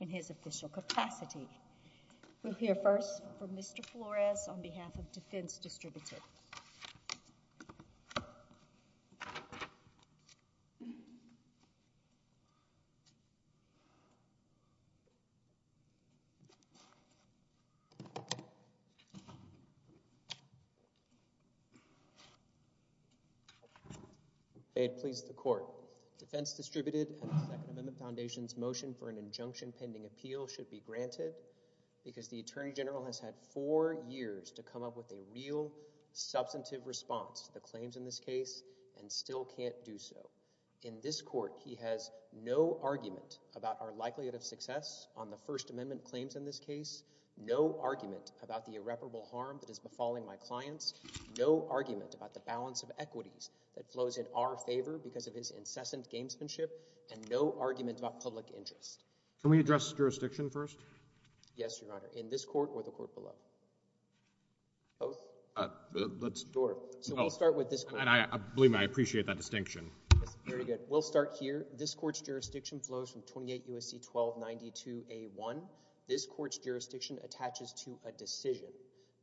in his official capacity. We'll hear first from Mr. Flores on behalf of Defense Distributed. May it please the Court, Defense Distributed and the Second Amendment Foundation's motion for an injunction pending appeal should be granted because the Attorney General has had four years to come up with a real substantive response to the claims in this case and still can't do so. In this court he has no argument about our likelihood of success on the First Amendment claims in this case, no argument about the irreparable harm that is befalling my clients, no argument about the balance of equities that flows in our favor because of his incessant gamesmanship, and no argument about public interest. Can we address jurisdiction first? Yes, Your Honor. In this court or the court below? Both? Let's start with this. I believe I appreciate that distinction. Very good. We'll start here. This court's jurisdiction flows from 28 U.S.C. 1292 A.1. This court's jurisdiction attaches to a decision.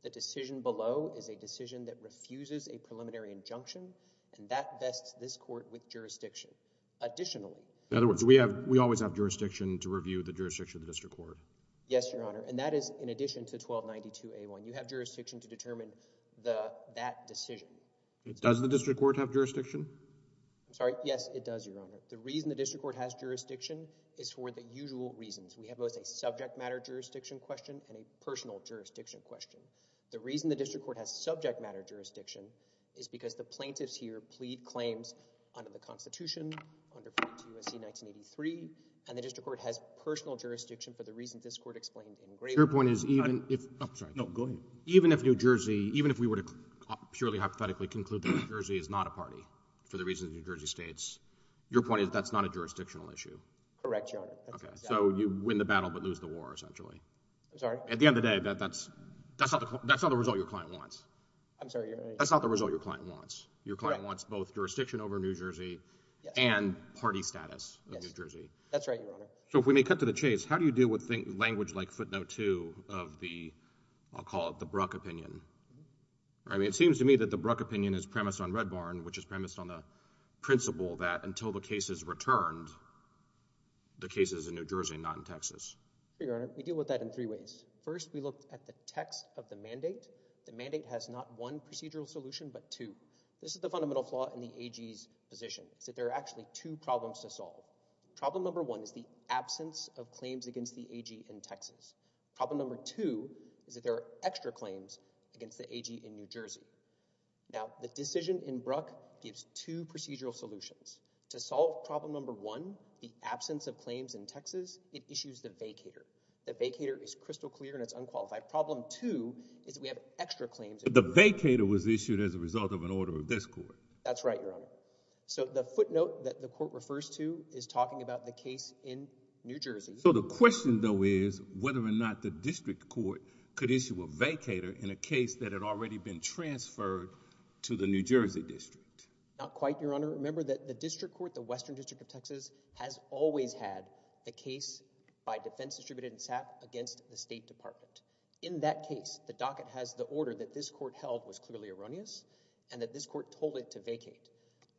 The decision below is a decision that additionally... In other words, we always have jurisdiction to review the jurisdiction of the district court. Yes, Your Honor, and that is in addition to 1292 A.1. You have jurisdiction to determine that decision. Does the district court have jurisdiction? I'm sorry? Yes, it does, Your Honor. The reason the district court has jurisdiction is for the usual reasons. We have both a subject matter jurisdiction question and a personal jurisdiction question. The reason the district court has subject matter jurisdiction is because the plaintiffs here plead claims under the Constitution, under 1292 U.S.C. 1983, and the district court has personal jurisdiction for the reasons this court explained in Gray's Law. Your point is even if... I'm sorry. No, go ahead. Even if New Jersey, even if we were to purely hypothetically conclude that New Jersey is not a party for the reasons New Jersey states, your point is that's not a jurisdictional issue? Correct, Your Honor. Okay, so you win the battle but lose the war, essentially. I'm sorry? At the end of the day, that's not the result your client wants. I'm sorry? That's not the result your client wants. Your client wants both jurisdiction over New Jersey and party status of New Jersey. That's right, Your Honor. So if we may cut to the chase, how do you deal with language like footnote two of the, I'll call it the Bruck opinion? I mean, it seems to me that the Bruck opinion is premised on Red Barn, which is premised on the principle that until the case is returned, the case is in New Jersey, not in Texas. Your Honor, we deal with that in three ways. First, we look at the text of the mandate. The mandate has not one procedural solution but two. This is the fundamental flaw in the AG's position. It's that there are actually two problems to solve. Problem number one is the absence of claims against the AG in Texas. Problem number two is that there are extra claims against the AG in New Jersey. Now, the decision in Bruck gives two procedural solutions. To solve problem number one, the absence of claims in Texas, it issues the vacator. The vacator is crystal clear and it's unqualified. Problem two is we have extra claims. The vacator was issued as a result of an order of this court. That's right, Your Honor. So the footnote that the court refers to is talking about the case in New Jersey. So the question though is whether or not the district court could issue a vacator in a case that had already been transferred to the New Jersey district. Not quite, Your Honor. Remember that the district court, the Western District of Texas, has always had a case by defense distributed and sat against the State Department. In that case, the docket has the order that this court held was clearly erroneous and that this court told it to vacate.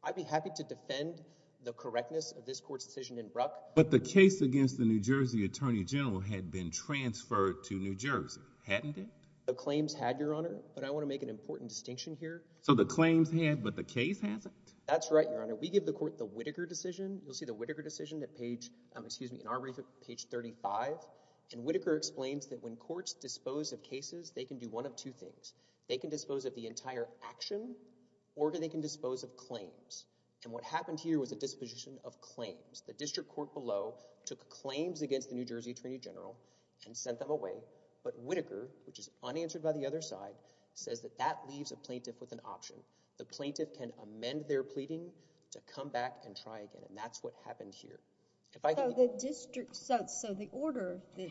I'd be happy to defend the correctness of this court's decision in Bruck. But the case against the New Jersey Attorney General had been transferred to New Jersey, hadn't it? The claims had, Your Honor, but I want to make an important distinction here. So the claims had but the case hasn't. That's right, Your Honor. We give the court the Whittaker decision. You'll see the Whittaker decision that page, excuse me, in our brief, page 35. And Whittaker explains that when courts dispose of cases, they can do one of two things. They can dispose of the entire action or they can dispose of claims. And what happened here was a disposition of claims. The district court below took claims against the New Jersey Attorney General and sent them away. But Whittaker, which is unanswered by the other side, says that that leaves a plaintiff with an option. The plaintiff can amend their pleading to come back and try again. And that's what happened here. So the order that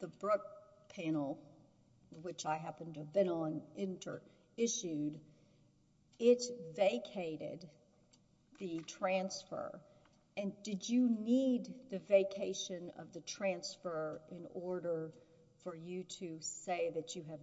the Bruck panel, which I happen to have been on, issued, it vacated the transfer. And did you need the vacation of the transfer in order for you to say that you have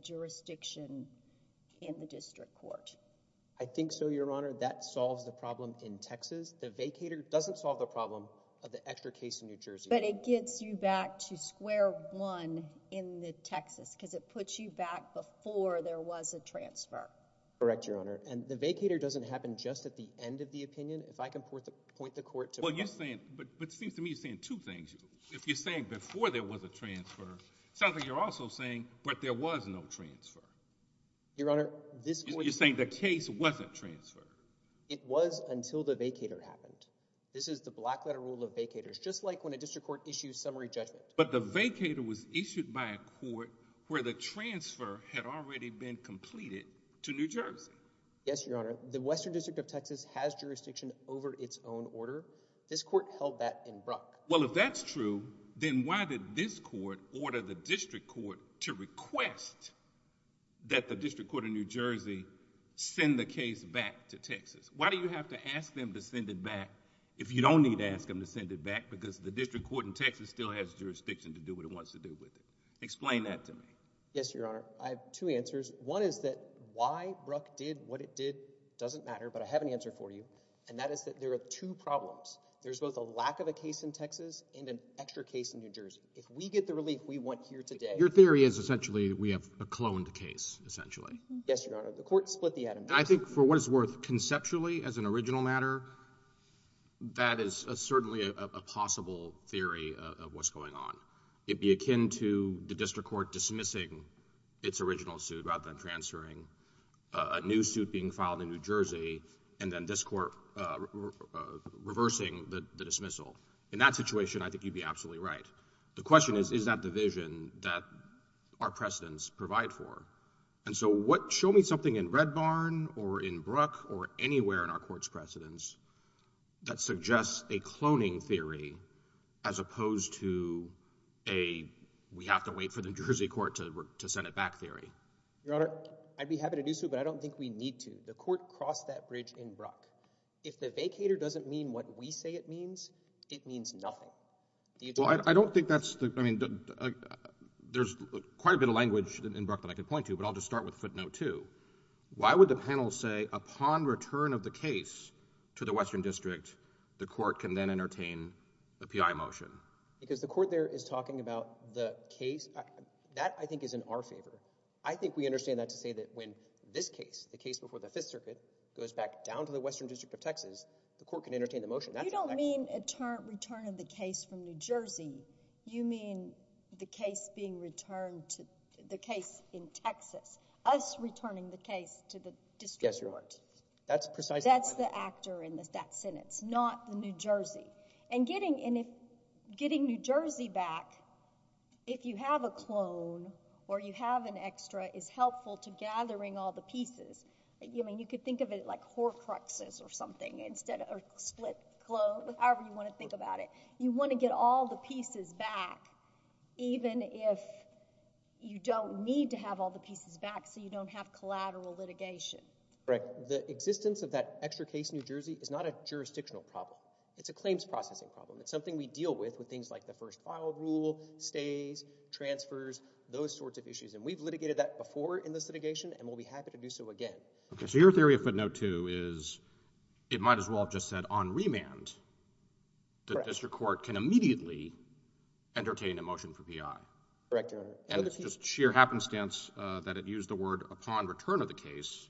I think so, Your Honor. That solves the problem in Texas. The vacator doesn't solve the problem of the extra case in New Jersey. But it gets you back to square one in the Texas because it puts you back before there was a transfer. Correct, Your Honor. And the vacator doesn't happen just at the end of the opinion. If I can point the court to what you're saying. But it seems to me saying two things. If you're saying before there was a transfer, something you're also saying, but there was no transfer. You're saying the case wasn't transferred. It was until the vacator happened. This is the black letter rule of vacators, just like when a district court issues summary judgment. But the vacator was issued by a court where the transfer had already been completed to New Jersey. Yes, Your Honor. The Western District of Texas has jurisdiction over its own order. This court held that in Bruck. Well, if that's true, then why did this court order the district court to request that the district court of New Jersey send the case back to Texas? Why do you have to ask them to send it back if you don't need to ask them to send it back because the district court in Texas still has jurisdiction to do what it wants to do with it? Explain that to me. Yes, Your Honor. I have two answers. One is that why Bruck did what it did doesn't matter. But I have an answer for you. And that is that there are two problems. There's both Your theory is essentially we have a cloned case, essentially. Yes, Your Honor. The court split the item. I think for what it's worth, conceptually, as an original matter, that is certainly a possible theory of what's going on. It'd be akin to the district court dismissing its original suit rather than transferring a new suit being filed in New Jersey and then this court reversing the division that our precedents provide for. And so show me something in Red Barn or in Bruck or anywhere in our court's precedents that suggests a cloning theory as opposed to a we have to wait for the New Jersey court to send it back theory. Your Honor, I'd be happy to do so, but I don't think we need to. The court crossed that bridge in Bruck. If the vacator doesn't mean what we say it There's quite a bit of language in Bruck that I could point to, but I'll just start with footnote two. Why would the panel say upon return of the case to the Western District, the court can then entertain a PI motion? Because the court there is talking about the case. That, I think, is in our favor. I think we understand that to say that when this case, the case before the Fifth Circuit, goes back down to the Western District of Texas, the court can entertain the motion. You don't mean a return of the case from New Jersey. You mean the case being returned to the case in Texas, us returning the case to the district court. Yes, Your Honor. That's precisely what I mean. That's the actor in that sentence, not the New Jersey. And getting New Jersey back, if you have a clone or you have an extra, is helpful to gathering all the pieces. I mean, you could think of it like horcruxes or something instead of split clothes, however you want to think about it. You want to get all the pieces back, even if you don't need to have all the pieces back so you don't have collateral litigation. Correct. The existence of that extra case in New Jersey is not a jurisdictional problem. It's a claims processing problem. It's something we deal with, with things like the first file rule, stays, transfers, those sorts of issues. And we've litigated that before in this litigation, and we'll be happy to do so again. Okay, so your theory of footnote two is it might as well have just said on remand, the district court can immediately entertain a motion for PI. Correct, Your Honor. And it's just sheer happenstance that it used the word upon return of the case,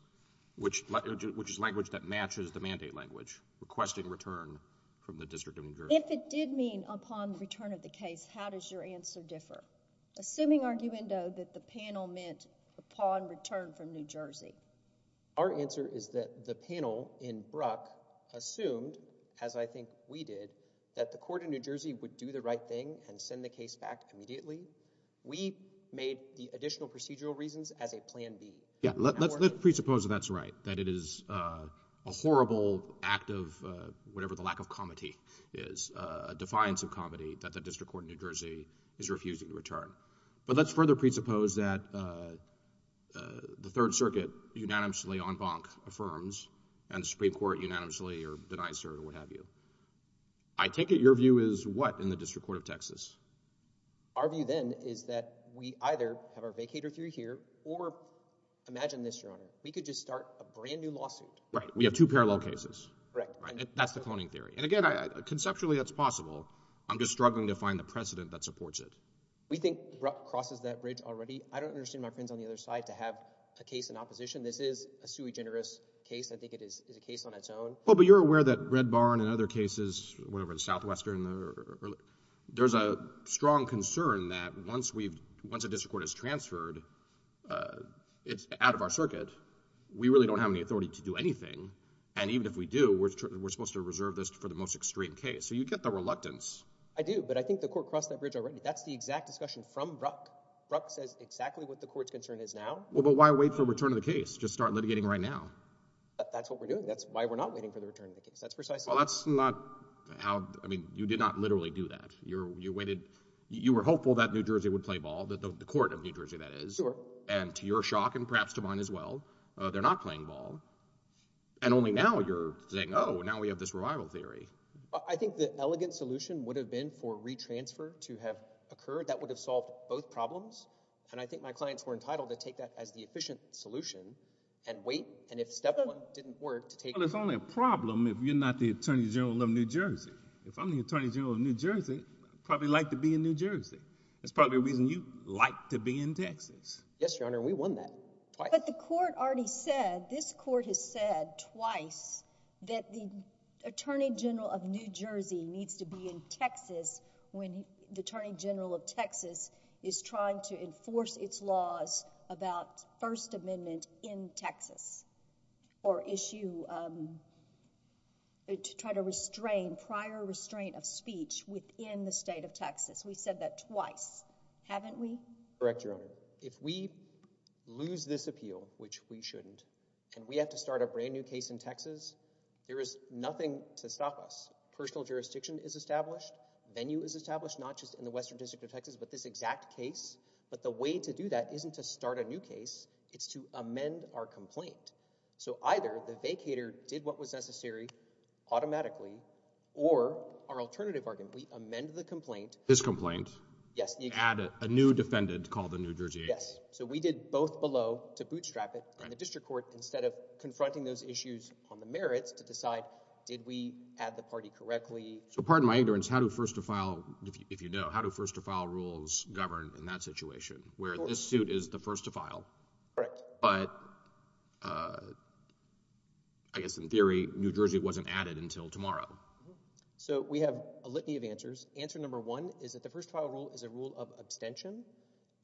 which is language that matches the mandate language, requesting return from the district of New Jersey. If it did mean upon return of the case, how does your answer differ? Assuming, arguendo, that the panel meant upon return from New Jersey. Our answer is that the panel in Bruck assumed, as I think we did, that the court in New Jersey would do the right thing and send the case back immediately. We made the additional procedural reasons as a plan B. Yeah, let's presuppose that that's right, that it is a horrible act of whatever the lack of comedy is, a defiance of comedy, that the district court in New Jersey is refusing to return. But let's further presuppose that the Third Circuit unanimously on bonk affirms and the Supreme Court unanimously or denies or what have you. I take it your view is what in the district court of Texas? Our view then is that we either have our vacator theory here or imagine this, Your Honor, we could just start a brand new lawsuit. Right, we have two parallel cases. Correct. That's the cloning theory. And again, conceptually that's possible. I'm just struggling to find the precedent that supports it. We think Bruck crosses that bridge already. I don't understand my friends on the other side to have a case in opposition. This is a sui generis case. I think it is a case on its own. Well, but you're aware that Red Barn and other cases, whatever the Southwestern, there's a strong concern that once we've, once a district court is transferred, it's out of our circuit. We really don't have any authority to do anything. And even if we do, we're supposed to reserve this for the most extreme case. So you get the court crossed that bridge already. That's the exact discussion from Bruck. Bruck says exactly what the court's concern is now. Well, but why wait for return of the case? Just start litigating right now. That's what we're doing. That's why we're not waiting for the return of the case. That's precisely. Well, that's not how, I mean, you did not literally do that. You were hopeful that New Jersey would play ball, the court of New Jersey that is. Sure. And to your shock and perhaps to mine as well, they're not playing ball. And only now you're saying, oh, now we have this theory. I think the elegant solution would have been for re-transfer to have occurred. That would have solved both problems. And I think my clients were entitled to take that as the efficient solution and wait. And if step one didn't work to take. Well, it's only a problem if you're not the attorney general of New Jersey. If I'm the attorney general of New Jersey, I'd probably like to be in New Jersey. That's probably the reason you like to be in Texas. Yes, attorney general of New Jersey needs to be in Texas when the attorney general of Texas is trying to enforce its laws about first amendment in Texas or issue, to try to restrain prior restraint of speech within the state of Texas. We said that twice, haven't we? Correct your honor. If we lose this appeal, which we shouldn't, and we have to start a brand new case in Texas, there is nothing to stop us. Personal jurisdiction is established. Venue is established, not just in the Western district of Texas, but this exact case. But the way to do that isn't to start a new case. It's to amend our complaint. So either the vacator did what was necessary automatically or our alternative argument. We amend the complaint. His complaint. Yes. Add a new defendant called the New Jersey. Yes. So we did both below to bootstrap it and instead of confronting those issues on the merits to decide, did we add the party correctly? So pardon my ignorance. How do first to file, if you know, how do first to file rules govern in that situation where this suit is the first to file? Correct. But I guess in theory, New Jersey wasn't added until tomorrow. So we have a litany of answers. Answer number one is that the first trial rule is a rule of abstention.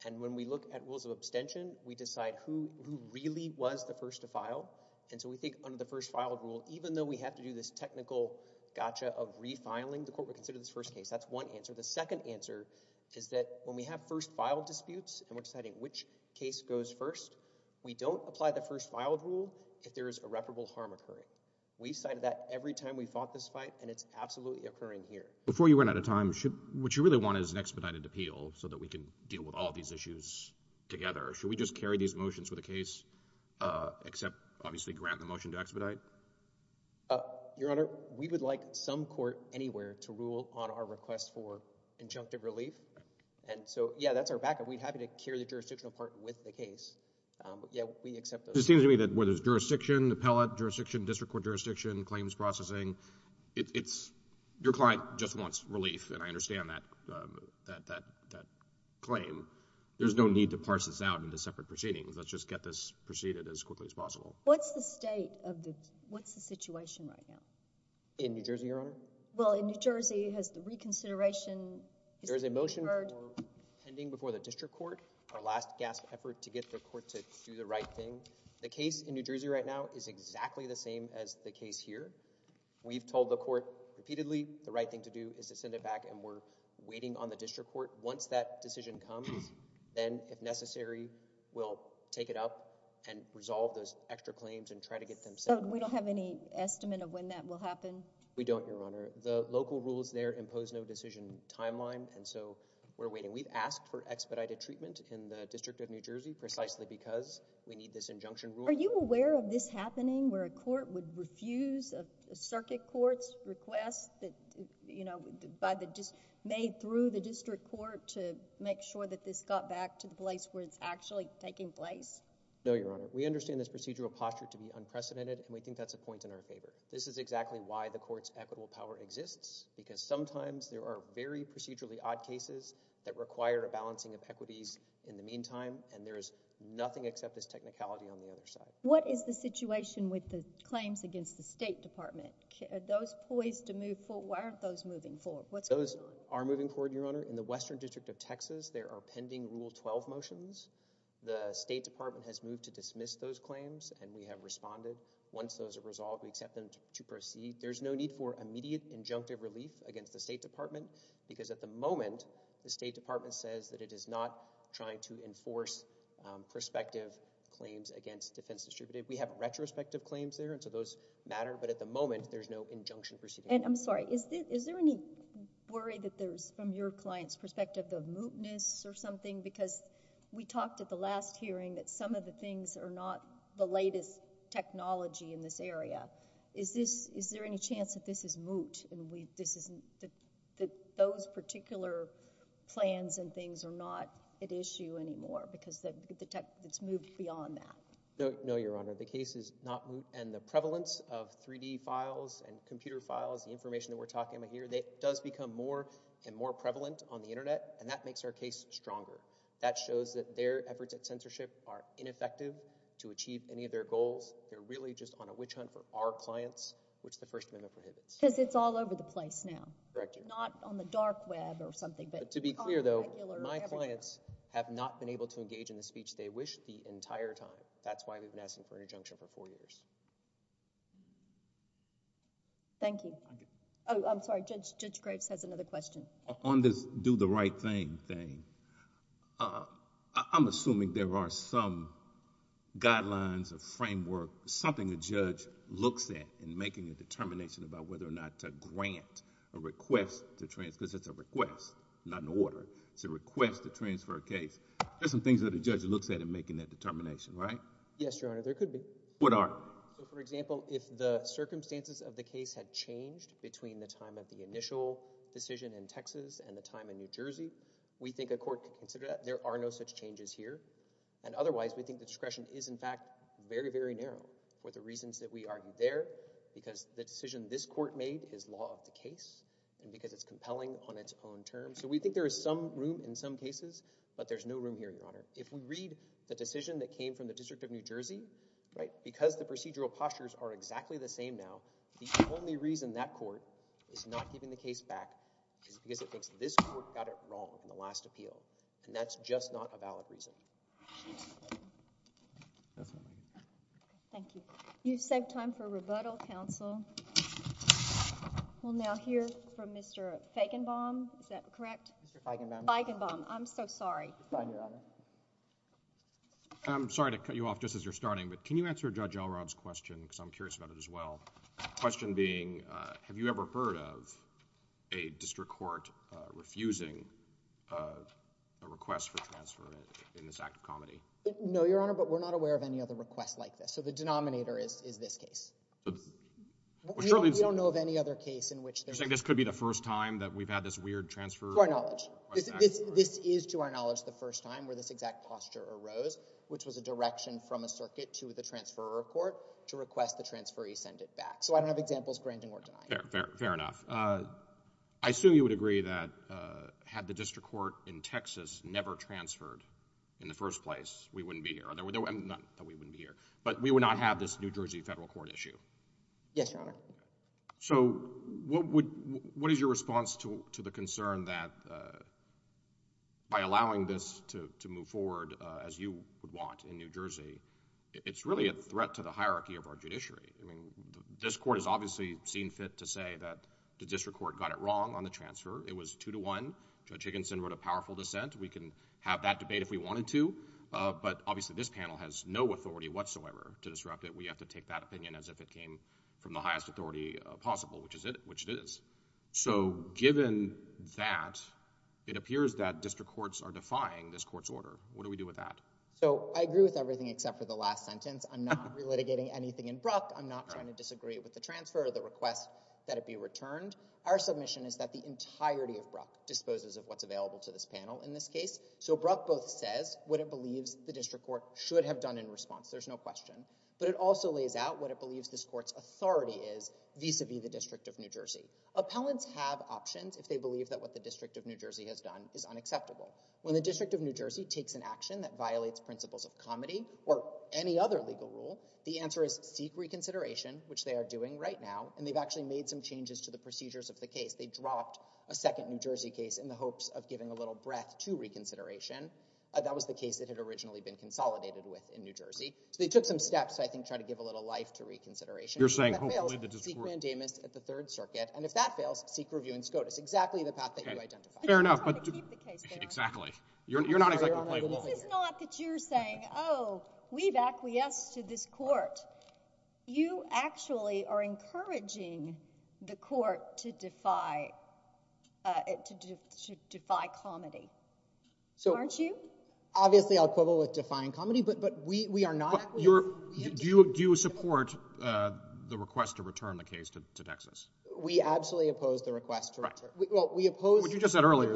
And when we look at rules of abstention, we decide who really was the first to file. And so we think under the first filed rule, even though we have to do this technical gotcha of refiling the court, we consider this first case. That's one answer. The second answer is that when we have first file disputes and we're deciding which case goes first, we don't apply the first filed rule. If there is irreparable harm occurring, we cited that every time we fought this fight. And it's absolutely occurring here before you run out of time. What you really want is an expedited appeal so that we can with all these issues together. Should we just carry these motions with the case, except obviously grant the motion to expedite? Your Honor, we would like some court anywhere to rule on our request for injunctive relief. And so, yeah, that's our backup. We'd happy to carry the jurisdictional part with the case. Yeah, we accept those. It seems to me that whether it's jurisdiction, appellate jurisdiction, district court jurisdiction, claims processing, it's, your client just wants relief. And I understand that claim. There's no need to parse this out into separate proceedings. Let's just get this proceeded as quickly as possible. What's the state of the, what's the situation right now? In New Jersey, Your Honor? Well, in New Jersey, has the reconsideration? There is a motion pending before the district court, our last gasp effort to get the court to do the right thing. The case in New Jersey right now is exactly the same as the case here. We've told the court repeatedly, the right thing to do is to send it back. And we're waiting on the district court. Once that decision comes, then if necessary, we'll take it up and resolve those extra claims and try to get them settled. So we don't have any estimate of when that will happen? We don't, Your Honor. The local rules there impose no decision timeline. And so we're waiting. We've asked for expedited treatment in the district of New Jersey, precisely because we need this injunction rule. Are you aware of this happening where a court would refuse a circuit court's request that, you know, by the, just made through the district court to make sure that this got back to the place where it's actually taking place? No, Your Honor. We understand this procedural posture to be unprecedented, and we think that's a point in our favor. This is exactly why the court's equitable power exists, because sometimes there are very procedurally odd cases that require a balancing of equities in the meantime, and there is nothing except this technicality on the other side. What is the situation with the claims against the State Department? Are those poised to move forward? Why aren't those moving forward? What's going on? Those are moving forward, Your Honor. In the Western District of Texas, there are pending Rule 12 motions. The State Department has moved to dismiss those claims, and we have responded. Once those are resolved, we accept them to proceed. There's no need for immediate injunctive relief against the State Department, because at the moment, the State Department has not been able to enforce prospective claims against Defense Distributed. We have retrospective claims there, and so those matter, but at the moment, there's no injunction proceeding. And I'm sorry, is there any worry that there's, from your client's perspective, of mootness or something? Because we talked at the last hearing that some of the things are not the latest technology in this area. Is this, is there any chance that this is moot, and we, this isn't, that those particular plans and things are not at issue anymore, because the tech, it's moot beyond that? No, Your Honor. The case is not moot, and the prevalence of 3D files and computer files, the information that we're talking about here, that does become more and more prevalent on the Internet, and that makes our case stronger. That shows that their efforts at censorship are ineffective to achieve any of their goals. They're really just on a witch hunt for our clients, which the First Amendment prohibits. Because it's all over the place now. Correct, Your Honor. Not on the dark web or something, but... But to be clear, though, my clients have not been able to engage in the speech they wish the entire time. That's why we've been asking for an injunction for four years. Thank you. Oh, I'm sorry. Judge Graves has another question. On this do the right thing thing, I'm assuming there are some things that a judge looks at in making a determination about whether or not to grant a request to... because it's a request, not an order. It's a request to transfer a case. There's some things that a judge looks at in making that determination, right? Yes, Your Honor, there could be. What are? So, for example, if the circumstances of the case had changed between the time of the initial decision in Texas and the time in New Jersey, we think a court could consider that. There are no such changes here. And otherwise, we think the discretion is, in fact, very, very narrow for the reasons that we argue there, because the decision this court made is law of the case and because it's compelling on its own terms. So we think there is some room in some cases, but there's no room here, Your Honor. If we read the decision that came from the District of New Jersey, right, because the procedural postures are exactly the same now, the only reason that court is not giving the case back is because it thinks this court got it wrong in the last appeal, and that's just not a valid reason. Thank you. You've saved time for rebuttal, counsel. We'll now hear from Mr. Feigenbaum. Is that correct? Mr. Feigenbaum. Feigenbaum. I'm so sorry. Fine, Your Honor. I'm sorry to cut you off just as you're starting, but can you answer Judge Elrod's question, because I'm curious about it as well. The question being, have you ever heard of a district court refusing a request for transfer in this act of comedy? No, Your Honor, but we're not aware of any other request like this. So the denominator is this case. We don't know of any other case in which there's... You're saying this could be the first time that we've had this weird transfer request? To our knowledge. This is, to our knowledge, the first time where this exact posture arose, which was a direction from a circuit to the back. So I don't have examples. Grandin will deny it. Fair enough. I assume you would agree that had the district court in Texas never transferred in the first place, we wouldn't be here. Not that we wouldn't be here, but we would not have this New Jersey federal court issue. Yes, Your Honor. So what is your response to the concern that by allowing this to move forward as you would want in New Jersey, it's really a threat to the hierarchy of our judiciary? I mean, this court has obviously seen fit to say that the district court got it wrong on the transfer. It was two to one. Judge Higginson wrote a powerful dissent. We can have that debate if we wanted to, but obviously this panel has no authority whatsoever to disrupt it. We have to take that opinion as if it came from the highest authority possible, which it is. So given that, it appears that district courts are except for the last sentence. I'm not relitigating anything in Bruck. I'm not trying to disagree with the transfer or the request that it be returned. Our submission is that the entirety of Bruck disposes of what's available to this panel in this case. So Bruck both says what it believes the district court should have done in response. There's no question, but it also lays out what it believes this court's authority is vis-a-vis the district of New Jersey. Appellants have options if they believe that what the district of New Jersey has done is unacceptable. When the district of New Jersey takes an action that violates principles of comedy or any other legal rule, the answer is seek reconsideration, which they are doing right now. And they've actually made some changes to the procedures of the case. They dropped a second New Jersey case in the hopes of giving a little breath to reconsideration. That was the case that had originally been consolidated with in New Jersey. So they took some steps, I think, to try to give a little life to reconsideration. You're saying hopefully the district court- Seek mandamus at the third circuit. And if that fails, seek review in SCOTUS. Exactly the path that you identified. Fair enough, but- I'm trying to keep the case there. Exactly. You're not exactly playing along here. This is not that you're saying, oh, we've acquiesced to this court. You actually are encouraging the court to defy comedy, aren't you? Obviously, I'll quibble with defying comedy, but we are not- Do you support the request to return the case to Texas? We absolutely oppose the request to return. Right. Well, we oppose- What you just said earlier-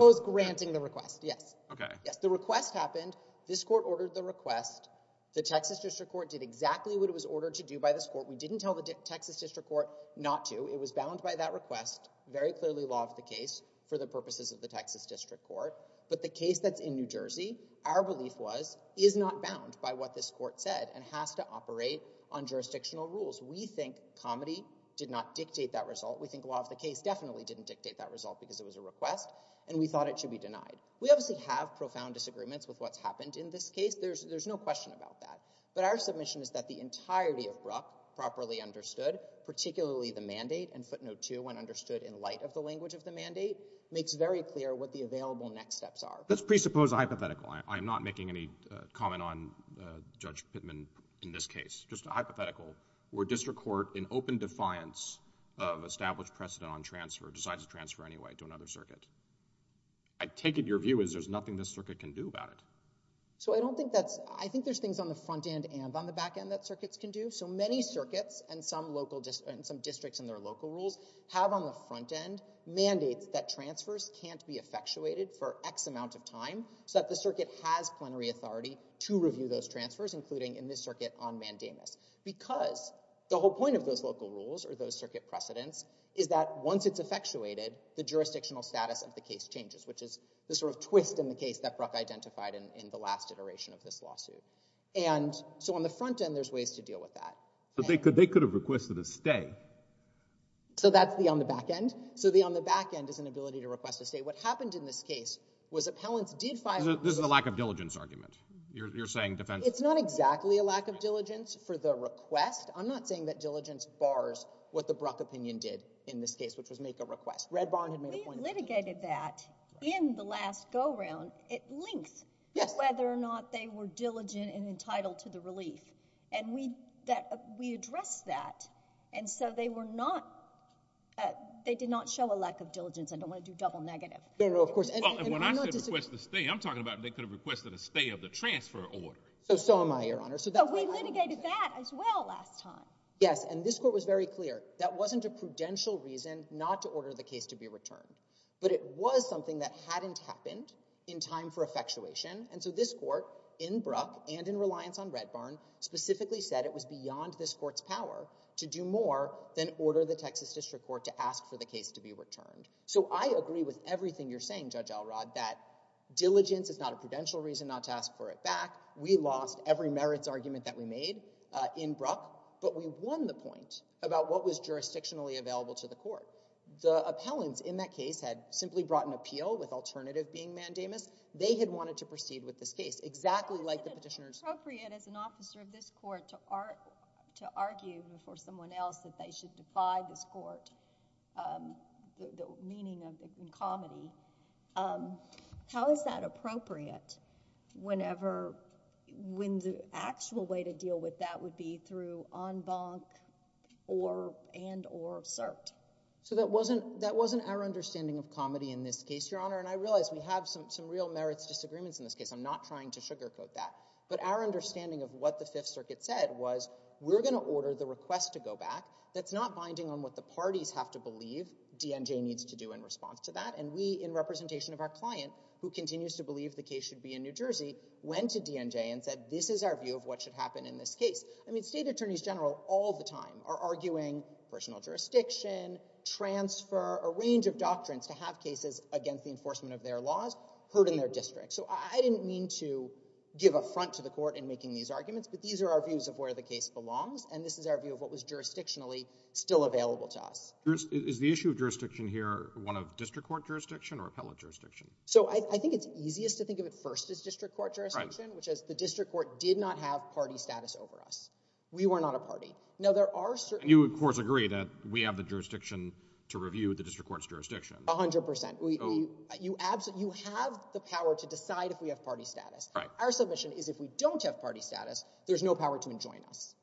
Yes. The request happened. This court ordered the request. The Texas district court did exactly what it was ordered to do by this court. We didn't tell the Texas district court not to. It was bound by that request, very clearly law of the case, for the purposes of the Texas district court. But the case that's in New Jersey, our belief was, is not bound by what this court said and has to operate on jurisdictional rules. We think comedy did not dictate that result. We think law of the case definitely didn't dictate that result because it was a request, and we thought it should be denied. We obviously have profound disagreements with what's happened in this case. There's no question about that. But our submission is that the entirety of Bruck, properly understood, particularly the mandate and footnote two, when understood in light of the language of the mandate, makes very clear what the available next steps are. Let's presuppose a hypothetical. I'm not making any comment on Judge Pittman in this case, just a hypothetical, where district court, in open defiance of established precedent on transfer, decides to transfer anyway to another circuit. I take it your view is there's nothing this circuit can do about it. So I don't think that's, I think there's things on the front end and on the back end that circuits can do. So many circuits and some local districts and some districts in their local rules have on the front end mandates that transfers can't be effectuated for x amount of time so that the circuit has plenary authority to review those transfers, including in this circuit on mandamus. Because the whole point of those local rules or those circuit precedents is that once it's effectuated, the jurisdictional status of the case changes, which is the sort of twist in the case that Bruck identified in the last iteration of this lawsuit. And so on the front end, there's ways to deal with that. But they could have requested a stay. So that's the on the back end. So the on the back end is an ability to request a stay. What happened in this case was appellants did find— This is a lack of diligence argument. You're saying defense— It's not exactly a lack of diligence for the request. I'm not saying that diligence bars what the Bruck opinion did in this case, which was make a request. Red Barn had made a point— We litigated that in the last go-round at length, whether or not they were diligent and entitled to the relief. And we addressed that. And so they were not—they did not show a lack of diligence. I don't want to do double negative. No, no, of course— And when I said request a stay, I'm talking about they could have requested a stay of the transfer order. So am I, Your Honor. So we litigated that as well last time. Yes, and this court was very clear. That wasn't a prudential reason not to order the case to be returned. But it was something that hadn't happened in time for effectuation. And so this court in Bruck and in reliance on Red Barn specifically said it was beyond this court's power to do more than order the Texas District Court to ask for the case to be returned. So I agree with everything you're saying, Judge Elrod, that diligence is not a prudential reason not to ask for it back. We lost every merits argument that we made in Bruck, but we won the point about what was jurisdictionally available to the court. The appellants in that case had simply brought an appeal with alternative being mandamus. They had wanted to proceed with this case, exactly like the petitioners— How is it appropriate as an officer of this court to argue before someone else that they defy this court the meaning of incomity? How is that appropriate when the actual way to deal with that would be through en banc and or cert? So that wasn't our understanding of comity in this case, Your Honor. And I realize we have some real merits disagreements in this case. I'm not trying to sugarcoat that. But our understanding of what the Fifth Circuit said was we're going to order the request to go back. That's not binding on what the parties have to believe DNJ needs to do in response to that. And we, in representation of our client, who continues to believe the case should be in New Jersey, went to DNJ and said, this is our view of what should happen in this case. I mean, state attorneys general all the time are arguing personal jurisdiction, transfer, a range of doctrines to have cases against the enforcement of their laws heard in their district. So I didn't mean to give a front to the court in making these arguments, but these are our views of where the still available to us. Is the issue of jurisdiction here one of district court jurisdiction or appellate jurisdiction? So I think it's easiest to think of it first as district court jurisdiction, which is the district court did not have party status over us. We were not a party. Now, there are certain you, of course, agree that we have the jurisdiction to review the district court's jurisdiction. A hundred percent. You have the power to decide if we have party status. Our submission is if we don't have party status, there's no power to enjoin us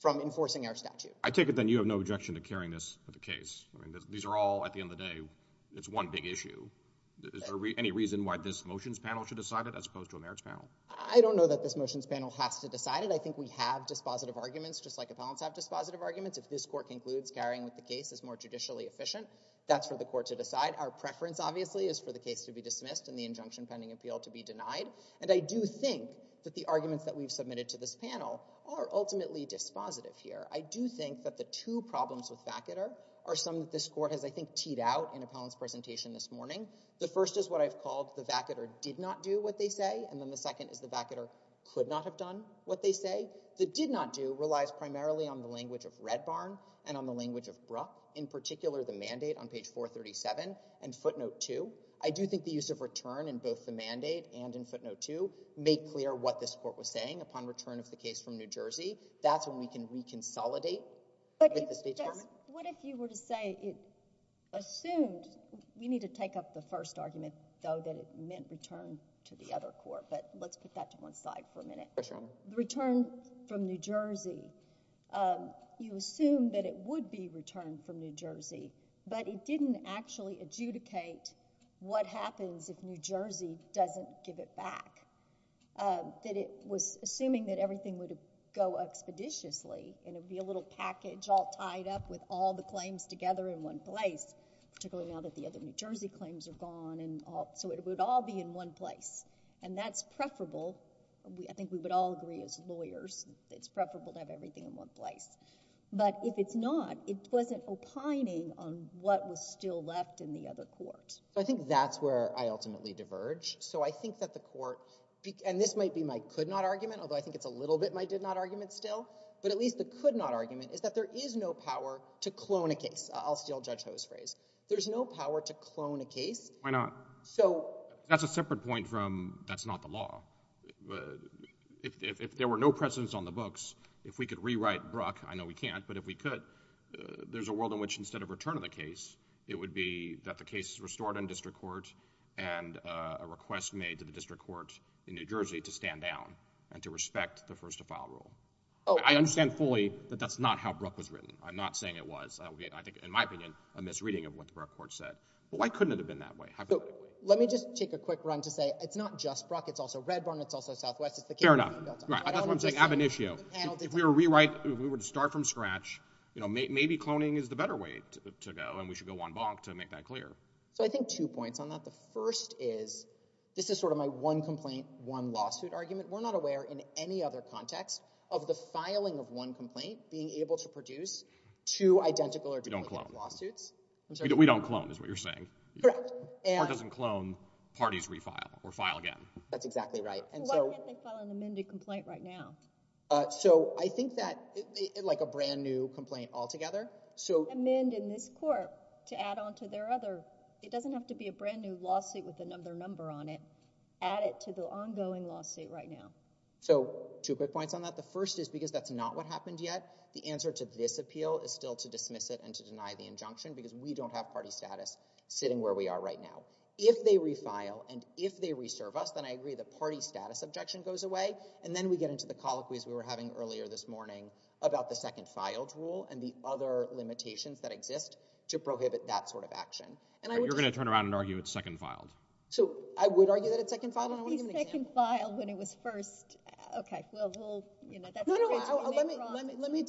from enforcing our statute. I take it then you have no objection to carrying this with the case. I mean, these are all at the end of the day, it's one big issue. Is there any reason why this motions panel should decide it as opposed to a merits panel? I don't know that this motions panel has to decide it. I think we have dispositive arguments just like appellants have dispositive arguments. If this court concludes carrying with the case is more judicially efficient, that's for the court to decide. Our preference obviously is for the case to be dismissed and the injunction pending appeal to be denied. And I do think that the arguments that we've submitted to this panel are ultimately dispositive here. I do think that the two problems with Vacater are some that this court has, I think, teed out in appellant's presentation this morning. The first is what I've called the Vacater did not do what they say. And then the second is the Vacater could not have done what they say. The did not do relies primarily on the language of Red Barn and on the language of BRUH, in particular, the mandate on page 437 and footnote 2. I do think the use of return in both the mandate and in footnote 2 make clear what this court was doing upon return of the case from New Jersey. That's when we can reconsolidate with the State Chairman. What if you were to say it assumed, we need to take up the first argument, though, that it meant return to the other court. But let's put that to one side for a minute. Return from New Jersey, you assume that it would be returned from New Jersey, but it didn't actually adjudicate what happens if New Jersey doesn't give it back. That it was assuming that everything would go expeditiously and it would be a little package all tied up with all the claims together in one place, particularly now that the other New Jersey claims are gone. So it would all be in one place. And that's preferable. I think we would all agree as lawyers, it's preferable to have everything in one place. But if it's not, it wasn't opining on what was still left in the other court. I think that's where I ultimately diverge. So I think that the court, and this might be my could not argument, although I think it's a little bit my did not argument still, but at least the could not argument is that there is no power to clone a case. I'll steal Judge Ho's phrase. There's no power to clone a case. Why not? That's a separate point from that's not the law. If there were no precedents on the books, if we could rewrite Bruck, I know we can't, but if we could, there's a world in which instead of it would be that the case is restored in district court and a request made to the district court in New Jersey to stand down and to respect the first to file rule. I understand fully that that's not how Bruck was written. I'm not saying it was. I think in my opinion, a misreading of what the Bruck court said. But why couldn't it have been that way? So let me just take a quick run to say it's not just Bruck. It's also Redburn. It's also Southwest. It's the case. Fair enough. That's what I'm saying. Ab initio. If we were to rewrite, if we were to start from the beginning, we should go one bonk to make that clear. So I think two points on that. The first is, this is sort of my one complaint, one lawsuit argument. We're not aware in any other context of the filing of one complaint being able to produce two identical or different lawsuits. We don't clone. We don't clone is what you're saying. Correct. Court doesn't clone, parties refile or file again. That's exactly right. So why can't they file an amended complaint right now? So I think that like a brand new complaint altogether. So amend in this court to add onto their other. It doesn't have to be a brand new lawsuit with another number on it. Add it to the ongoing lawsuit right now. So two quick points on that. The first is because that's not what happened yet. The answer to this appeal is still to dismiss it and to deny the injunction because we don't have party status sitting where we are right now. If they refile and if they reserve us, then I agree the party status objection goes away. And then we get into the colloquies we were having earlier this morning about the second filed rule and the other limitations that exist to prohibit that sort of action. And you're going to turn around and argue it's second filed. So I would argue that it's second filed. It would be second filed when it was first. Okay. Let me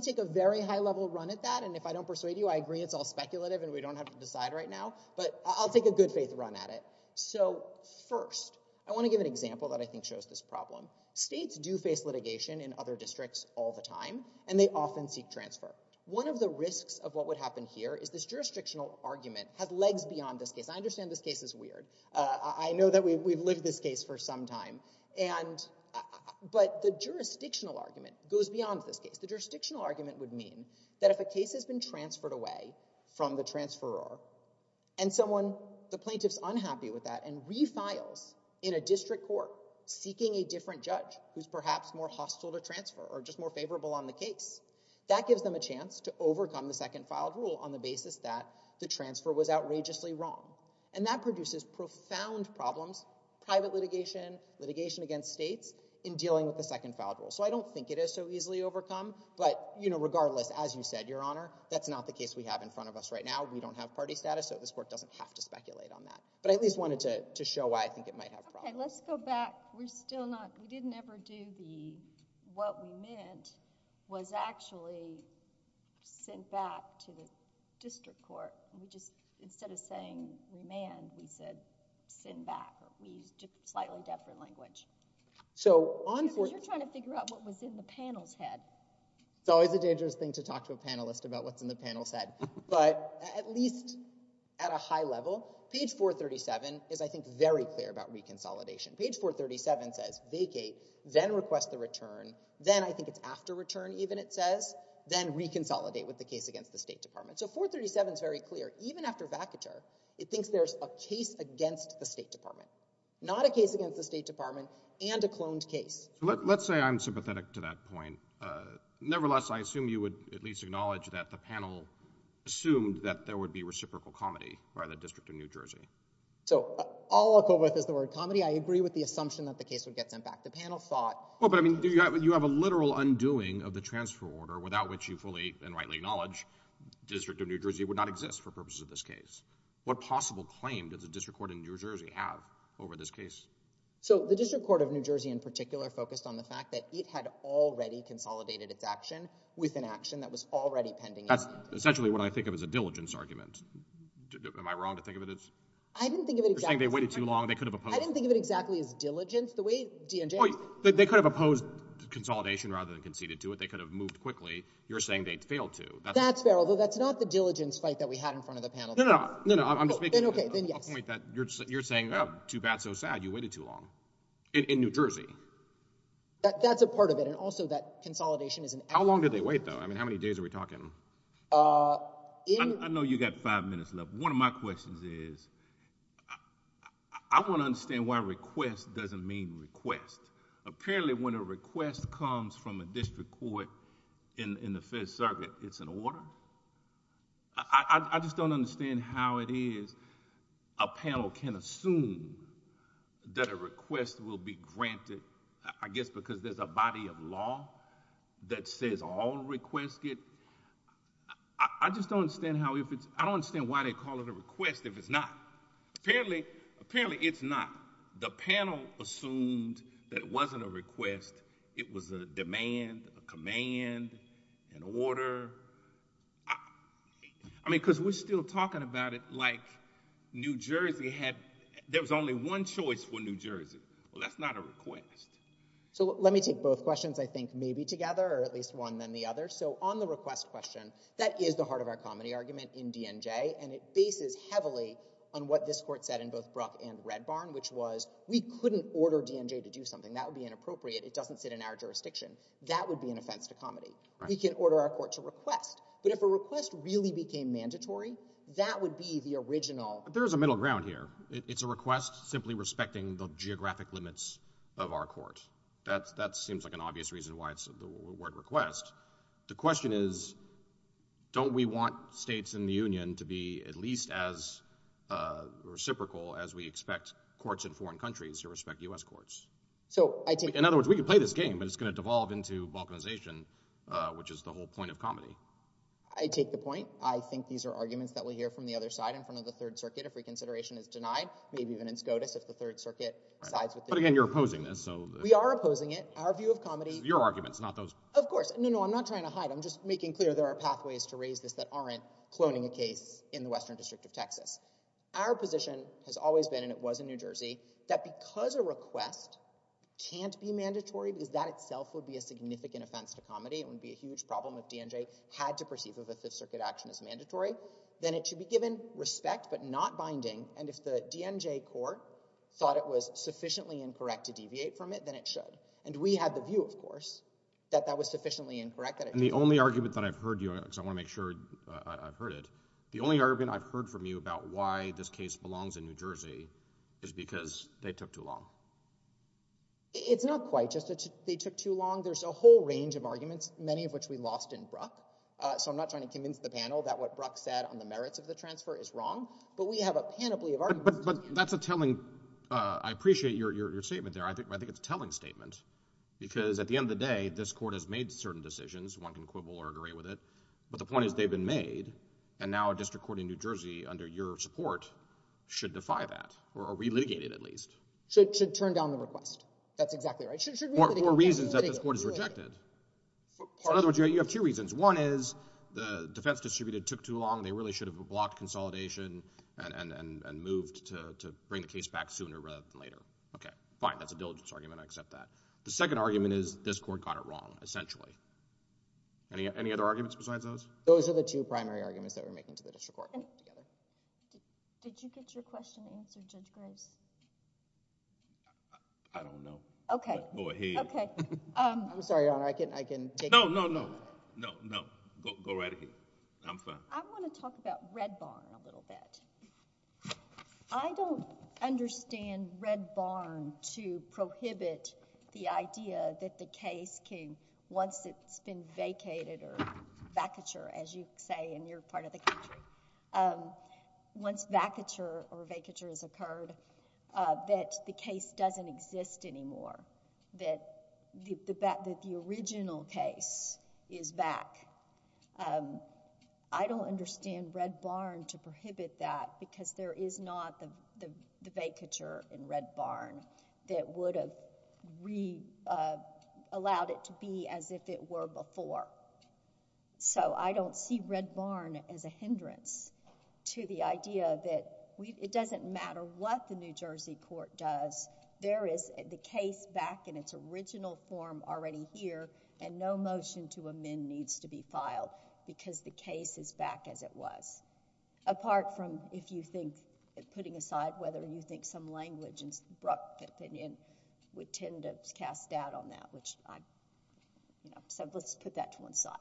take a very high level run at that. And if I don't persuade you, I agree. It's all speculative and we don't have to decide right now, but I'll take a good faith run at it. So first, I want to give an example that I think shows this problem. States do face litigation in other districts all the time and they often seek transfer. One of the risks of what would happen here is this jurisdictional argument has legs beyond this case. I understand this case is weird. I know that we've lived this case for some time. But the jurisdictional argument goes beyond this case. The jurisdictional argument would mean that if a case has been transferred away from the transferor and someone, the plaintiff's unhappy with that and refiles in a district court seeking a different judge who's perhaps more hostile to transfer or just more favorable on the case, that gives them a chance to overcome the second filed rule on the basis that the transfer was outrageously wrong. And that produces profound problems, private litigation, litigation against states in dealing with the second filed rule. So I don't think it is so easily overcome, but regardless, as you said, Your Honor, that's not the case we have in front of us right now. We don't have party status. So this court doesn't have to speculate on that. But I at least wanted to show why I think it might have problems. OK. Let's go back. We're still not, we didn't ever do the, what we meant was actually sent back to the district court. We just, instead of saying remand, we said send back. But we used a slightly different language. So on court. Because you're trying to figure out what was in the panel's head. It's always a dangerous thing to talk to a panelist about what's in the panel's head. But at least at a high level, page 437 is, I think, very clear about reconsolidation. Page 437 says vacate, then request the return. Then I think it's after return even it says. Then reconsolidate with the case against the State Department. So 437 is very clear. Even after vacatur, it thinks there's a case against the State Department. Not a case against the State Department and a cloned case. Let's say I'm sympathetic to that point. Nevertheless, I assume you would at least acknowledge that the panel assumed that there would be reciprocal comedy by the District of New Jersey. So all I'll go with is the word comedy. I agree with the assumption that the case would get sent back. The panel thought. Well, but I mean, do you have, you have a literal undoing of the transfer order without which you fully and rightly acknowledge the District of New Jersey would not exist for purposes of this case. What possible claim does the District Court in New Jersey have over this case? So the District Court of New Jersey in particular focused on the fact that it consolidated its action with an action that was already pending. That's essentially what I think of as a diligence argument. Am I wrong to think of it as? I didn't think of it exactly. You're saying they waited too long. They could have opposed. I didn't think of it exactly as diligence the way DNJ. They could have opposed consolidation rather than conceded to it. They could have moved quickly. You're saying they failed to. That's fair. Although that's not the diligence fight that we had in front of the panel. No, no, I'm just making a point that you're saying, oh, too bad, so sad. You waited too long in New Jersey. That's a part of it and also that consolidation is an action. How long did they wait though? I mean, how many days are we talking? I know you got five minutes left. One of my questions is, I want to understand why request doesn't mean request. Apparently when a request comes from a District Court in the Fifth Circuit, it's an order. I just don't understand how it is a panel can assume that a request will be granted I guess because there's a body of law that says all requests get... I just don't understand how if it's... I don't understand why they call it a request if it's not. Apparently, it's not. The panel assumed that it wasn't a request. It was a demand, a command, an order. I mean, because we're still talking about it like New Jersey had... There was only one choice for New Jersey. That's not a request. Let me take both questions, I think, maybe together or at least one than the other. On the request question, that is the heart of our comedy argument in DNJ. It bases heavily on what this Court said in both Bruck and Red Barn, which was, we couldn't order DNJ to do something. That would be inappropriate. It doesn't sit in our jurisdiction. That would be an offense to comedy. We can order our Court to request, but if a request really became mandatory, that would be the original... There is a middle ground here. It's a request simply respecting the geographic limits of our Court. That seems like an obvious reason why it's the word request. The question is, don't we want states in the Union to be at least as reciprocal as we expect courts in foreign countries to respect U.S. courts? In other words, we could play this game, but it's going to devolve into balkanization, which is the whole point of comedy. I take the point. I think these are arguments that we hear from the other side in front of the Third Circuit if reconsideration is denied, maybe even in SCOTUS if the Third Circuit sides with... But again, you're opposing this, so... We are opposing it. Our view of comedy... Your arguments, not those... Of course. No, no, I'm not trying to hide. I'm just making clear there are pathways to raise this that aren't cloning a case in the Western District of Texas. Our position has always been, and it was in New Jersey, that because a request can't be mandatory, because that itself would be a significant offense to comedy, it would be a huge problem if DNJ had to perceive if a Fifth Circuit action is mandatory, then it should be given respect but not binding. And if the DNJ court thought it was sufficiently incorrect to deviate from it, then it should. And we had the view, of course, that that was sufficiently incorrect that it... And the only argument that I've heard you... Because I want to make sure I've heard it. The only argument I've heard from you about why this case belongs in New Jersey is because they took too long. It's not quite just that they took too long. There's a whole range of arguments, many of which we lost in Bruck. So I'm not trying to convince the panel that what Bruck said on the merits of the transfer is wrong, but we have a panoply of arguments... But that's a telling... I appreciate your statement there. I think it's a telling statement, because at the end of the day, this court has made certain decisions. One can quibble or agree with it. But the point is, they've been made, and now a district court in New Jersey, under your support, should defy that, or relitigate it at least. Should turn down the request. That's exactly right. Or reasons that this court has rejected. You have two reasons. One is, the defense distributed took too long. They really should have blocked consolidation and moved to bring the case back sooner rather than later. Okay. Fine. That's a diligence argument. I accept that. The second argument is, this court got it wrong, essentially. Any other arguments besides those? Those are the two primary arguments that we're making to the district court. Did you get your question answered, Judge Grace? I don't know. Okay. Boy, he... Okay. I'm sorry, Your Honor. I can take... No, no, no. No, no. Go right ahead. I'm fine. I want to talk about Red Barn a little bit. I don't understand Red Barn to prohibit the idea that the case can, once it's been vacated, or vacature, as you say in your part of the country, once vacature or vacature has occurred, that the case doesn't exist anymore, that the original case is back. I don't understand Red Barn to prohibit that because there is not the vacature in Red Barn that would have allowed it to be as if it were before. I don't see Red Barn as a hindrance to the idea that it doesn't matter what the New Jersey Court does. There is the case back in its original form already here and no motion to amend needs to be filed because the case is back as it was. Apart from, if you think, putting aside whether you think some language and opinion would tend to cast doubt on that. Let's put that to one side.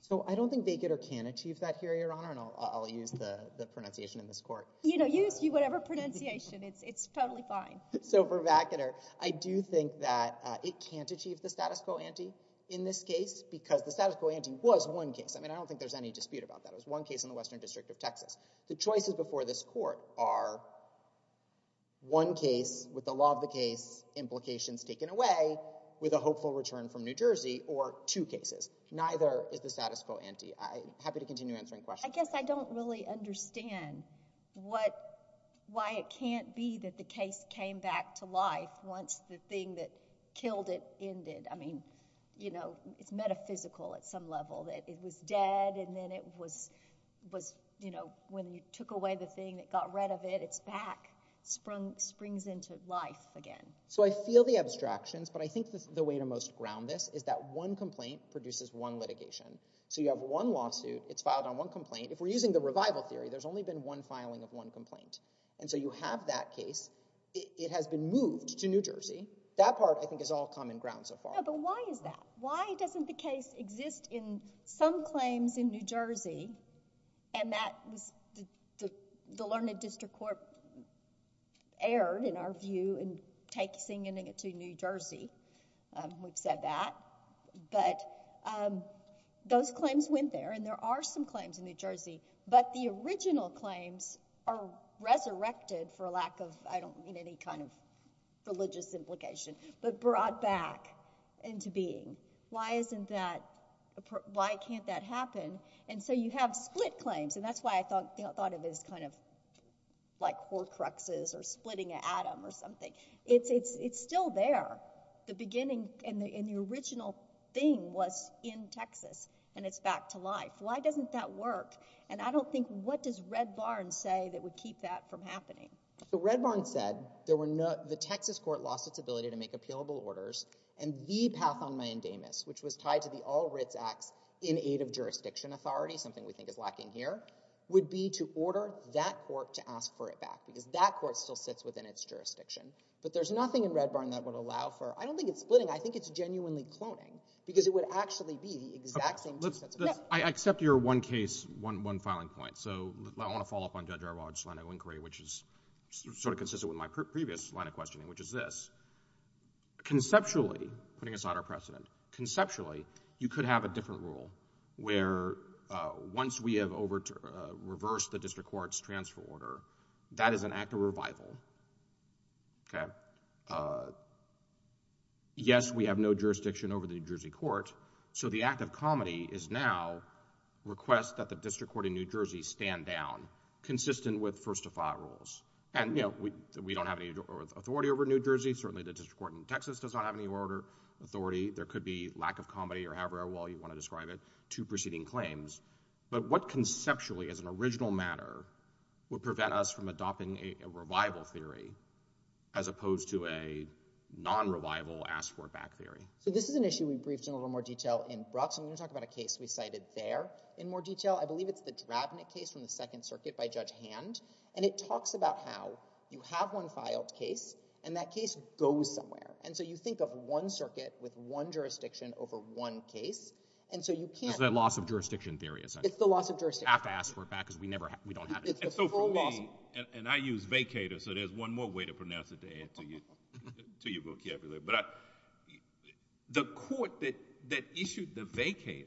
So I don't think vacater can achieve that here, Your Honor, and I'll use the pronunciation in this court. You know, use whatever pronunciation. It's totally fine. So for vacater, I do think that it can't achieve the status quo ante in this case because the status quo ante was one case. I mean, I don't think there's any dispute about that. It was one case in the Western District of Texas. The choices before this court are one case with the law of the case implications taken away with a hopeful return from New Jersey or two cases. Neither is the status quo ante. I'm happy to continue answering questions. I guess I don't really understand why it can't be that the case came back to life once the thing that killed it ended. I mean, you know, it's metaphysical at some level that it was dead and then it was, you know, when you took away the thing that got rid of it, it's back, springs into life again. So I feel the abstractions, but I think the way to most ground this is that one complaint produces one litigation. So you have one lawsuit, it's filed on one complaint. If we're using the revival theory, there's only been one filing of one complaint. And so you have that case. It has been moved to New Jersey. That part, I think, is all common ground so far. No, but why is that? Why doesn't the case exist in some claims in New Jersey, and that was the Learned District Court erred, in our view, in taking it to New Jersey, we've said that, but those claims went there and there are some claims in New Jersey, but the original claims are resurrected for a lack of, I don't mean any kind of religious implication, but brought back into being. Why isn't that, why can't that happen? And so you have split claims, and that's why I thought of it as kind of like horcruxes or splitting an atom or something. It's still there. The beginning and the original thing was in Texas, and it's back to life. Why doesn't that work? And I don't think, what does Red Barn say that would keep that from happening? So Red Barn said there were no, the Texas court lost its ability to make appealable orders, and the path on my endamus, which was tied to the All Writs Acts in Aid of Jurisdiction Authority, something we think is lacking here, would be to order that court to ask for it back, because that court still sits within its jurisdiction. But there's nothing in Red Barn that would allow for, I don't think it's splitting, I think it's genuinely cloning, because it would actually be the exact same two sets I accept your one case, one filing point. So I want to follow up on Judge Arwaj's line of inquiry, which is sort of consistent with my previous line of questioning, which is this. Conceptually, putting aside our precedent, conceptually, you could have a different rule where once we have reversed the district court's transfer order, that is an act of revival. Okay. Yes, we have no jurisdiction over the New Jersey court. So the act of comedy is now request that the district court in New Jersey stand down, consistent with first to file rules. And, you know, we don't have any authority over New Jersey. Certainly the district court in Texas does not have any authority. There could be lack of comedy, or however well you want to describe it, to preceding claims. But what conceptually, as an original matter, would prevent us from adopting a revival theory, as opposed to a non-revival ask for it back theory? So this is an issue we briefed in a little more detail in Broxham. We're going to talk about a case we cited there in more detail. I believe it's the Drabnick case from the Second Circuit by Judge Hand. And it talks about how you have one filed case, and that case goes somewhere. And so you think of one circuit with one jurisdiction over one case. And so you can't— It's that loss of jurisdiction theory, is that it? It's the loss of jurisdiction. You have to ask for it back, because we don't have it. It's the full loss— And I use vacator, so there's one more way to pronounce it to add to your vocabulary. But the court that issued the vacator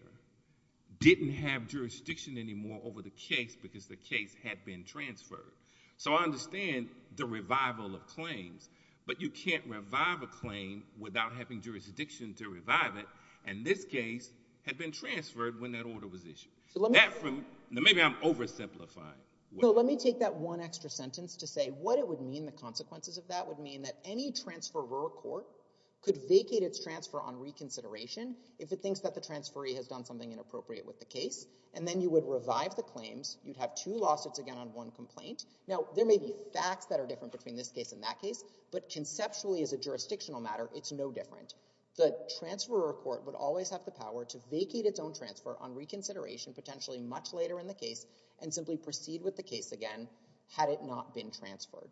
didn't have jurisdiction anymore over the case, because the case had been transferred. So I understand the revival of claims, but you can't revive a claim without having jurisdiction to revive it. And this case had been transferred when that order was issued. So let me— That from— Maybe I'm oversimplifying. No, let me take that one extra sentence to say what it would mean, the consequences of that would mean that any transferor court could vacate its transfer on reconsideration if it thinks that the transferee has done something inappropriate with the case, and then you would revive the claims. You'd have two lawsuits again on one complaint. Now, there may be facts that are different between this case and that case, but conceptually as a jurisdictional matter, it's no different. The transferor court would always have the power to vacate its own transfer on reconsideration, potentially much later in the case, and simply proceed with the case again had it not been transferred.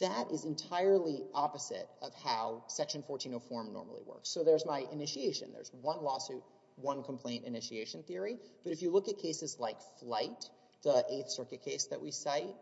That is entirely opposite of how Section 1404 normally works. So there's my initiation. There's one lawsuit, one complaint initiation theory. But if you look at cases like Flight, the Eighth Circuit case that we cite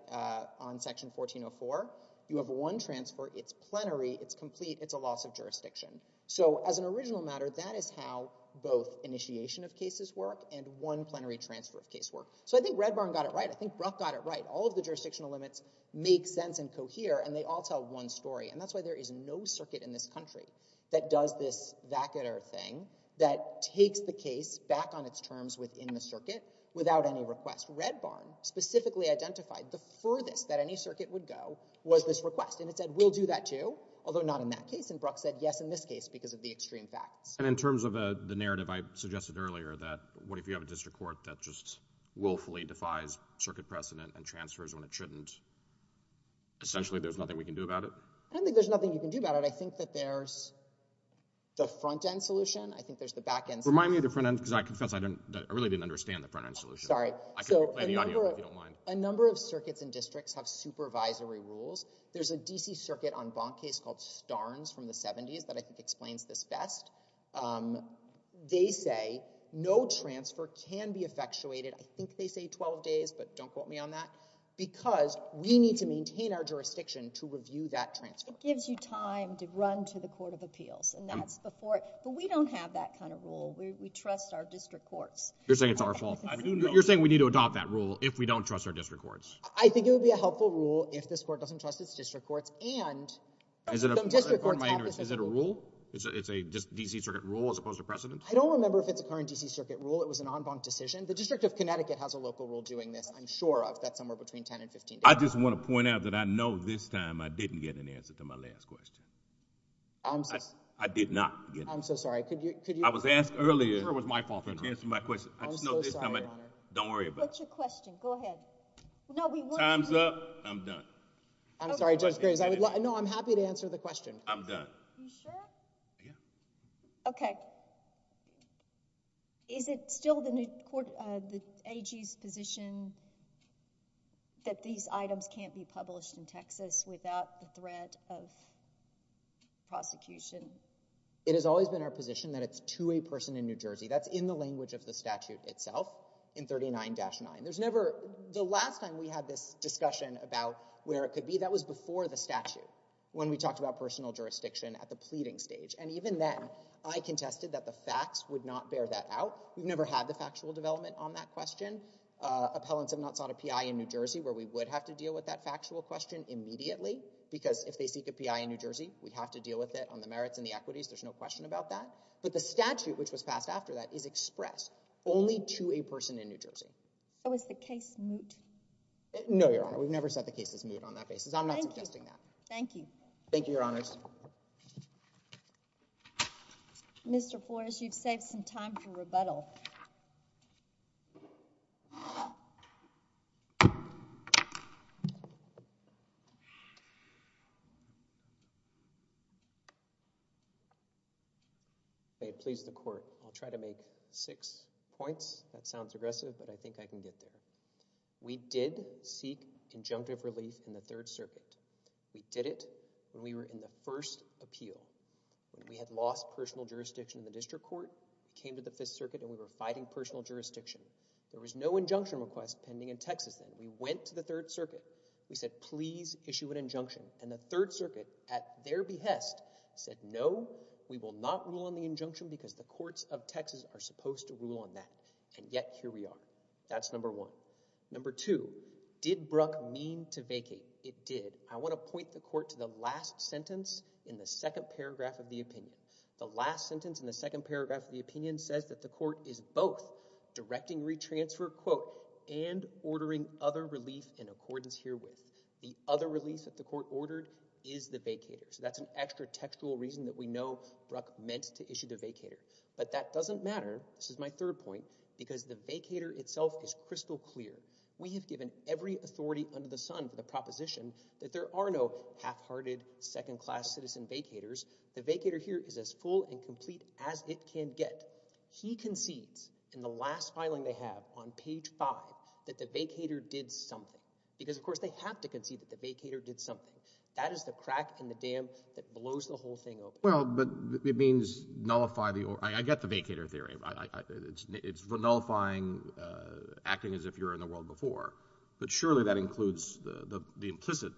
on Section 1404, you have one transfer. It's plenary. It's complete. It's a loss of jurisdiction. So as an original matter, that is how both initiation of cases work and one plenary transfer of case work. So I think Red Barn got it right. I think Brough got it right. All of the jurisdictional limits make sense and cohere, and they all tell one story. And that's why there is no circuit in this country that does this vacater thing that takes the case back on its terms within the circuit without any request. Red Barn specifically identified the furthest that any circuit would go was this request. And it said, we'll do that too, although not in that case. And Brough said yes in this case because of the extreme facts. And in terms of the narrative I suggested earlier that what if you have a district court that just willfully defies circuit precedent and transfers when it shouldn't, essentially there's nothing we can do about it? I don't think there's nothing you can do about it. I think that there's the front-end solution. I think there's the back-end solution. Remind me of the front-end because I confess I really didn't understand the front-end solution. Sorry. I can play the audio if you don't mind. A number of circuits and districts have supervisory rules. There's a DC circuit on Bonk case called Starnes from the 70s that I think explains this best. They say no transfer can be effectuated. I think they say 12 days, but don't quote me on that. Because we need to maintain our jurisdiction to review that transfer. It gives you time to run to the court of appeals. And that's before it. But we don't have that kind of rule. We trust our district courts. You're saying it's our fault? You're saying we need to adopt that rule if we don't trust our district courts? I think it would be a helpful rule if this court doesn't trust its district courts. And some district courts have this rule. Is it a rule? It's a DC circuit rule as opposed to precedent? I don't remember if it's a current DC circuit rule. It was an en banc decision. The District of Connecticut has a local rule doing this, I'm sure of. That's somewhere between 10 and 15 days. I just want to point out that I know this time I didn't get an answer to my last question. I did not. I'm so sorry. I was asked earlier. It sure was my fault for not answering my question. I'm so sorry, Your Honor. Don't worry about it. What's your question? Go ahead. Time's up. I'm done. I'm sorry, Judge Graves. No, I'm happy to answer the question. I'm done. You sure? Yeah. Okay. Is it still the AG's position that these items can't be published in Texas without the threat of prosecution? It has always been our position that it's to a person in New Jersey. That's in the language of the statute itself in 39-9. The last time we had this discussion about where it could be, that was before the statute, when we talked about personal jurisdiction at the pleading stage. And even then, I contested that the facts would not bear that out. We've never had the factual development on that question. Appellants have not sought a PI in New Jersey where we would have to deal with that factual question immediately, because if they seek a PI in New Jersey, we have to deal with it on the merits and the equities. There's no question about that. But the statute which was passed after that is expressed only to a person in New Jersey. So is the case moot? No, Your Honor. We've never set the case as moot on that basis. I'm not suggesting that. Thank you. Thank you, Your Honors. Mr. Flores, you've saved some time for rebuttal. May it please the Court. I'll try to make six points. That sounds aggressive, but I think I can get there. We did seek conjunctive relief in the Third Circuit. We did it when we were in the first appeal, when we had lost personal jurisdiction in the District Court, came to the Fifth Circuit, and we were fighting personal jurisdiction. There was no injunction request pending in Texas then. We went to the Third Circuit. We said, please issue an injunction. And the Third Circuit, at their behest, said, no, we will not rule on the injunction because the courts of Texas are supposed to rule on that. And yet, here we are. That's number one. Number two, did Bruck mean to vacate? It did. I want to point the Court to the last sentence in the second paragraph of the opinion. The last sentence in the second paragraph of the opinion says that the Court is both directing retransfer, quote, and ordering other relief in accordance herewith. The other relief that the Court ordered is the vacater. So that's an extra textual reason that we know Bruck meant to issue the vacater. But that doesn't matter. This is my third point, because the vacater itself is crystal clear. We have given every authority under the sun for the proposition that there are no half-hearted, second-class citizen vacators. The vacater here is as full and complete as it can get. He concedes, in the last filing they have on page five, that the vacater did something. Because, of course, they have to concede that the vacater did something. That is the crack in the dam that blows the whole thing open. Well, but it means nullify the order. I get the vacater theory. It's nullifying, acting as if you're in the world before. But surely that includes the implicit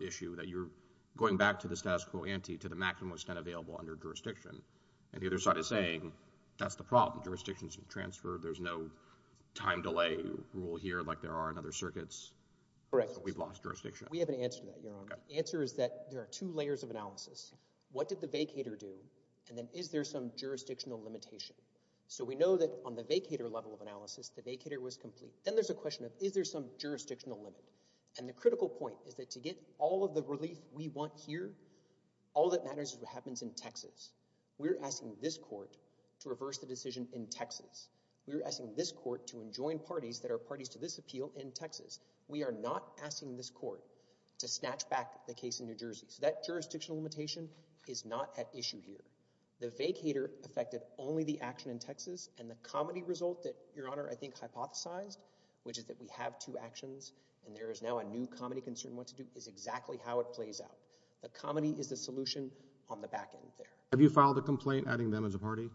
issue that you're going back to the status quo ante to the maximum extent available under jurisdiction. And the other side is saying, that's the problem. Jurisdictions have transferred. There's no time delay rule here like there are in other circuits. Correct. We've lost jurisdiction. We have an answer to that, Your Honor. The answer is that there are two layers of analysis. What did the vacater do? And then is there some jurisdictional limitation? So we know that on the vacater level of analysis, the vacater was complete. Then there's a question of, is there some jurisdictional limit? And the critical point is that to get all of the relief we want here, all that matters is what happens in Texas. We're asking this court to reverse the decision in Texas. We're asking this court to enjoin parties that are parties to this appeal in Texas. We are not asking this court to snatch back the case in New Jersey. So that jurisdictional limitation is not at issue here. The vacater affected only the action in Texas and the comedy result that, Your Honor, I think hypothesized, which is that we have two actions and there is now a new comedy concern. What to do is exactly how it plays out. The comedy is the solution on the back end there. Have you filed a complaint adding them as a party?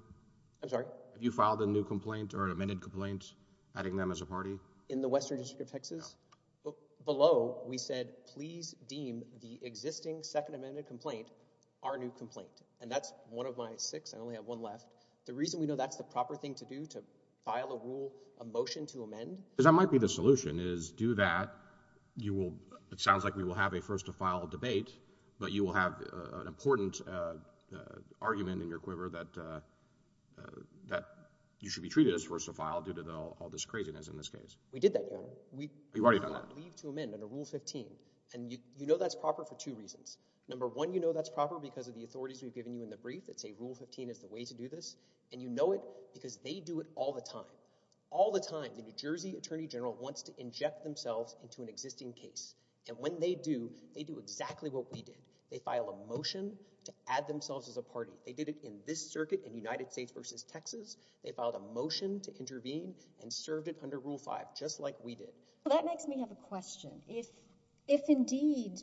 I'm sorry? Have you filed a new complaint or an amended complaint adding them as a party? In the Western District of Texas? No. Below, we said, please deem the existing second amended complaint our new complaint. And that's one of my six. I only have one left. The reason we know that's the proper thing to do, to file a rule, a motion to amend. Because that might be the solution, is do that. You will, it sounds like we will have a first to file debate, but you will have an important argument in your quiver that you should be treated as first to file due to all this craziness in this case. We did that, Your Honor. You've already done that? Leave to amend under Rule 15. And you know that's proper for two reasons. Number one, you know that's proper because of the authorities we've given you in the brief that say Rule 15 is the way to do this. And you know it because they do it all the time. All the time. The New Jersey Attorney General wants to inject themselves into an existing case. And when they do, they do exactly what we did. They file a motion to add themselves as a party. They did it in this circuit in United States versus Texas. They filed a motion to intervene and served it under Rule 5, just like we did. That makes me have a question. If indeed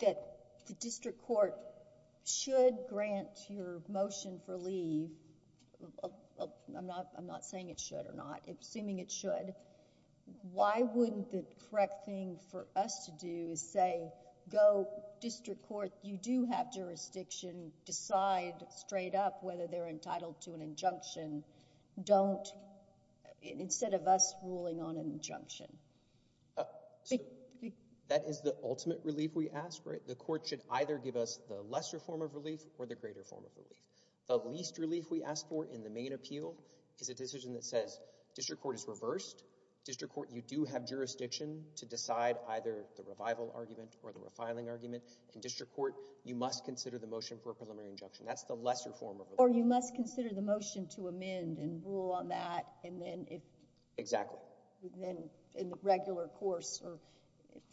that the district court should grant your motion for leave, I'm not saying it should or not, assuming it should, why wouldn't the correct thing for us to do is say, go district court, you do have jurisdiction, decide straight up whether they're entitled to an injunction. Don't, instead of us ruling on an injunction. Oh, that is the ultimate relief we ask, right? The court should either give us the lesser form of relief or the greater form of relief. The least relief we ask for in the main appeal is a decision that says, district court is reversed. District court, you do have jurisdiction to decide either the revival argument or the refiling argument. In district court, you must consider the motion for a preliminary injunction. That's the lesser form of relief. Or you must consider the motion to amend and rule on that. And then if. Exactly. Then in the regular course or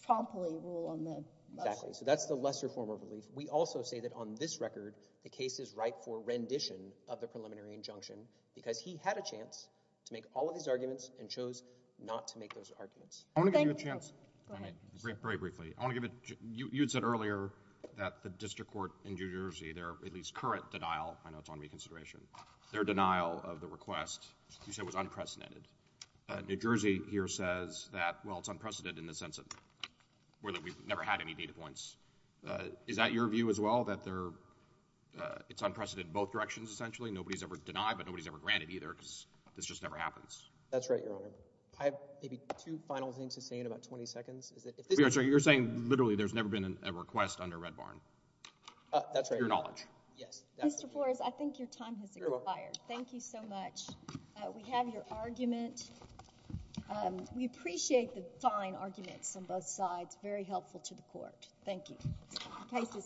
promptly rule on the. Exactly. So that's the lesser form of relief. We also say that on this record, the case is ripe for rendition of the preliminary injunction because he had a chance to make all of these arguments and chose not to make those arguments. I want to give you a chance. Go ahead. Very briefly. I want to give it, you had said earlier that the district court in New Jersey, their at least current denial, I know it's on reconsideration, their denial of the request you said was unprecedented. New Jersey here says that, well, it's unprecedented in the sense of where that we've never had any data points. Is that your view as well? That there, it's unprecedented in both directions, essentially. Nobody's ever denied, but nobody's ever granted either. Because this just never happens. That's right, Your Honor. I have maybe two final things to say in about 20 seconds. Is that if this. You're saying literally there's never been a request under Red Barn. That's right. Your knowledge. Yes. Mr. Flores, I think your time has expired. Thank you so much. We have your argument. We appreciate the fine arguments on both sides. Very helpful to the court. The case is submitted.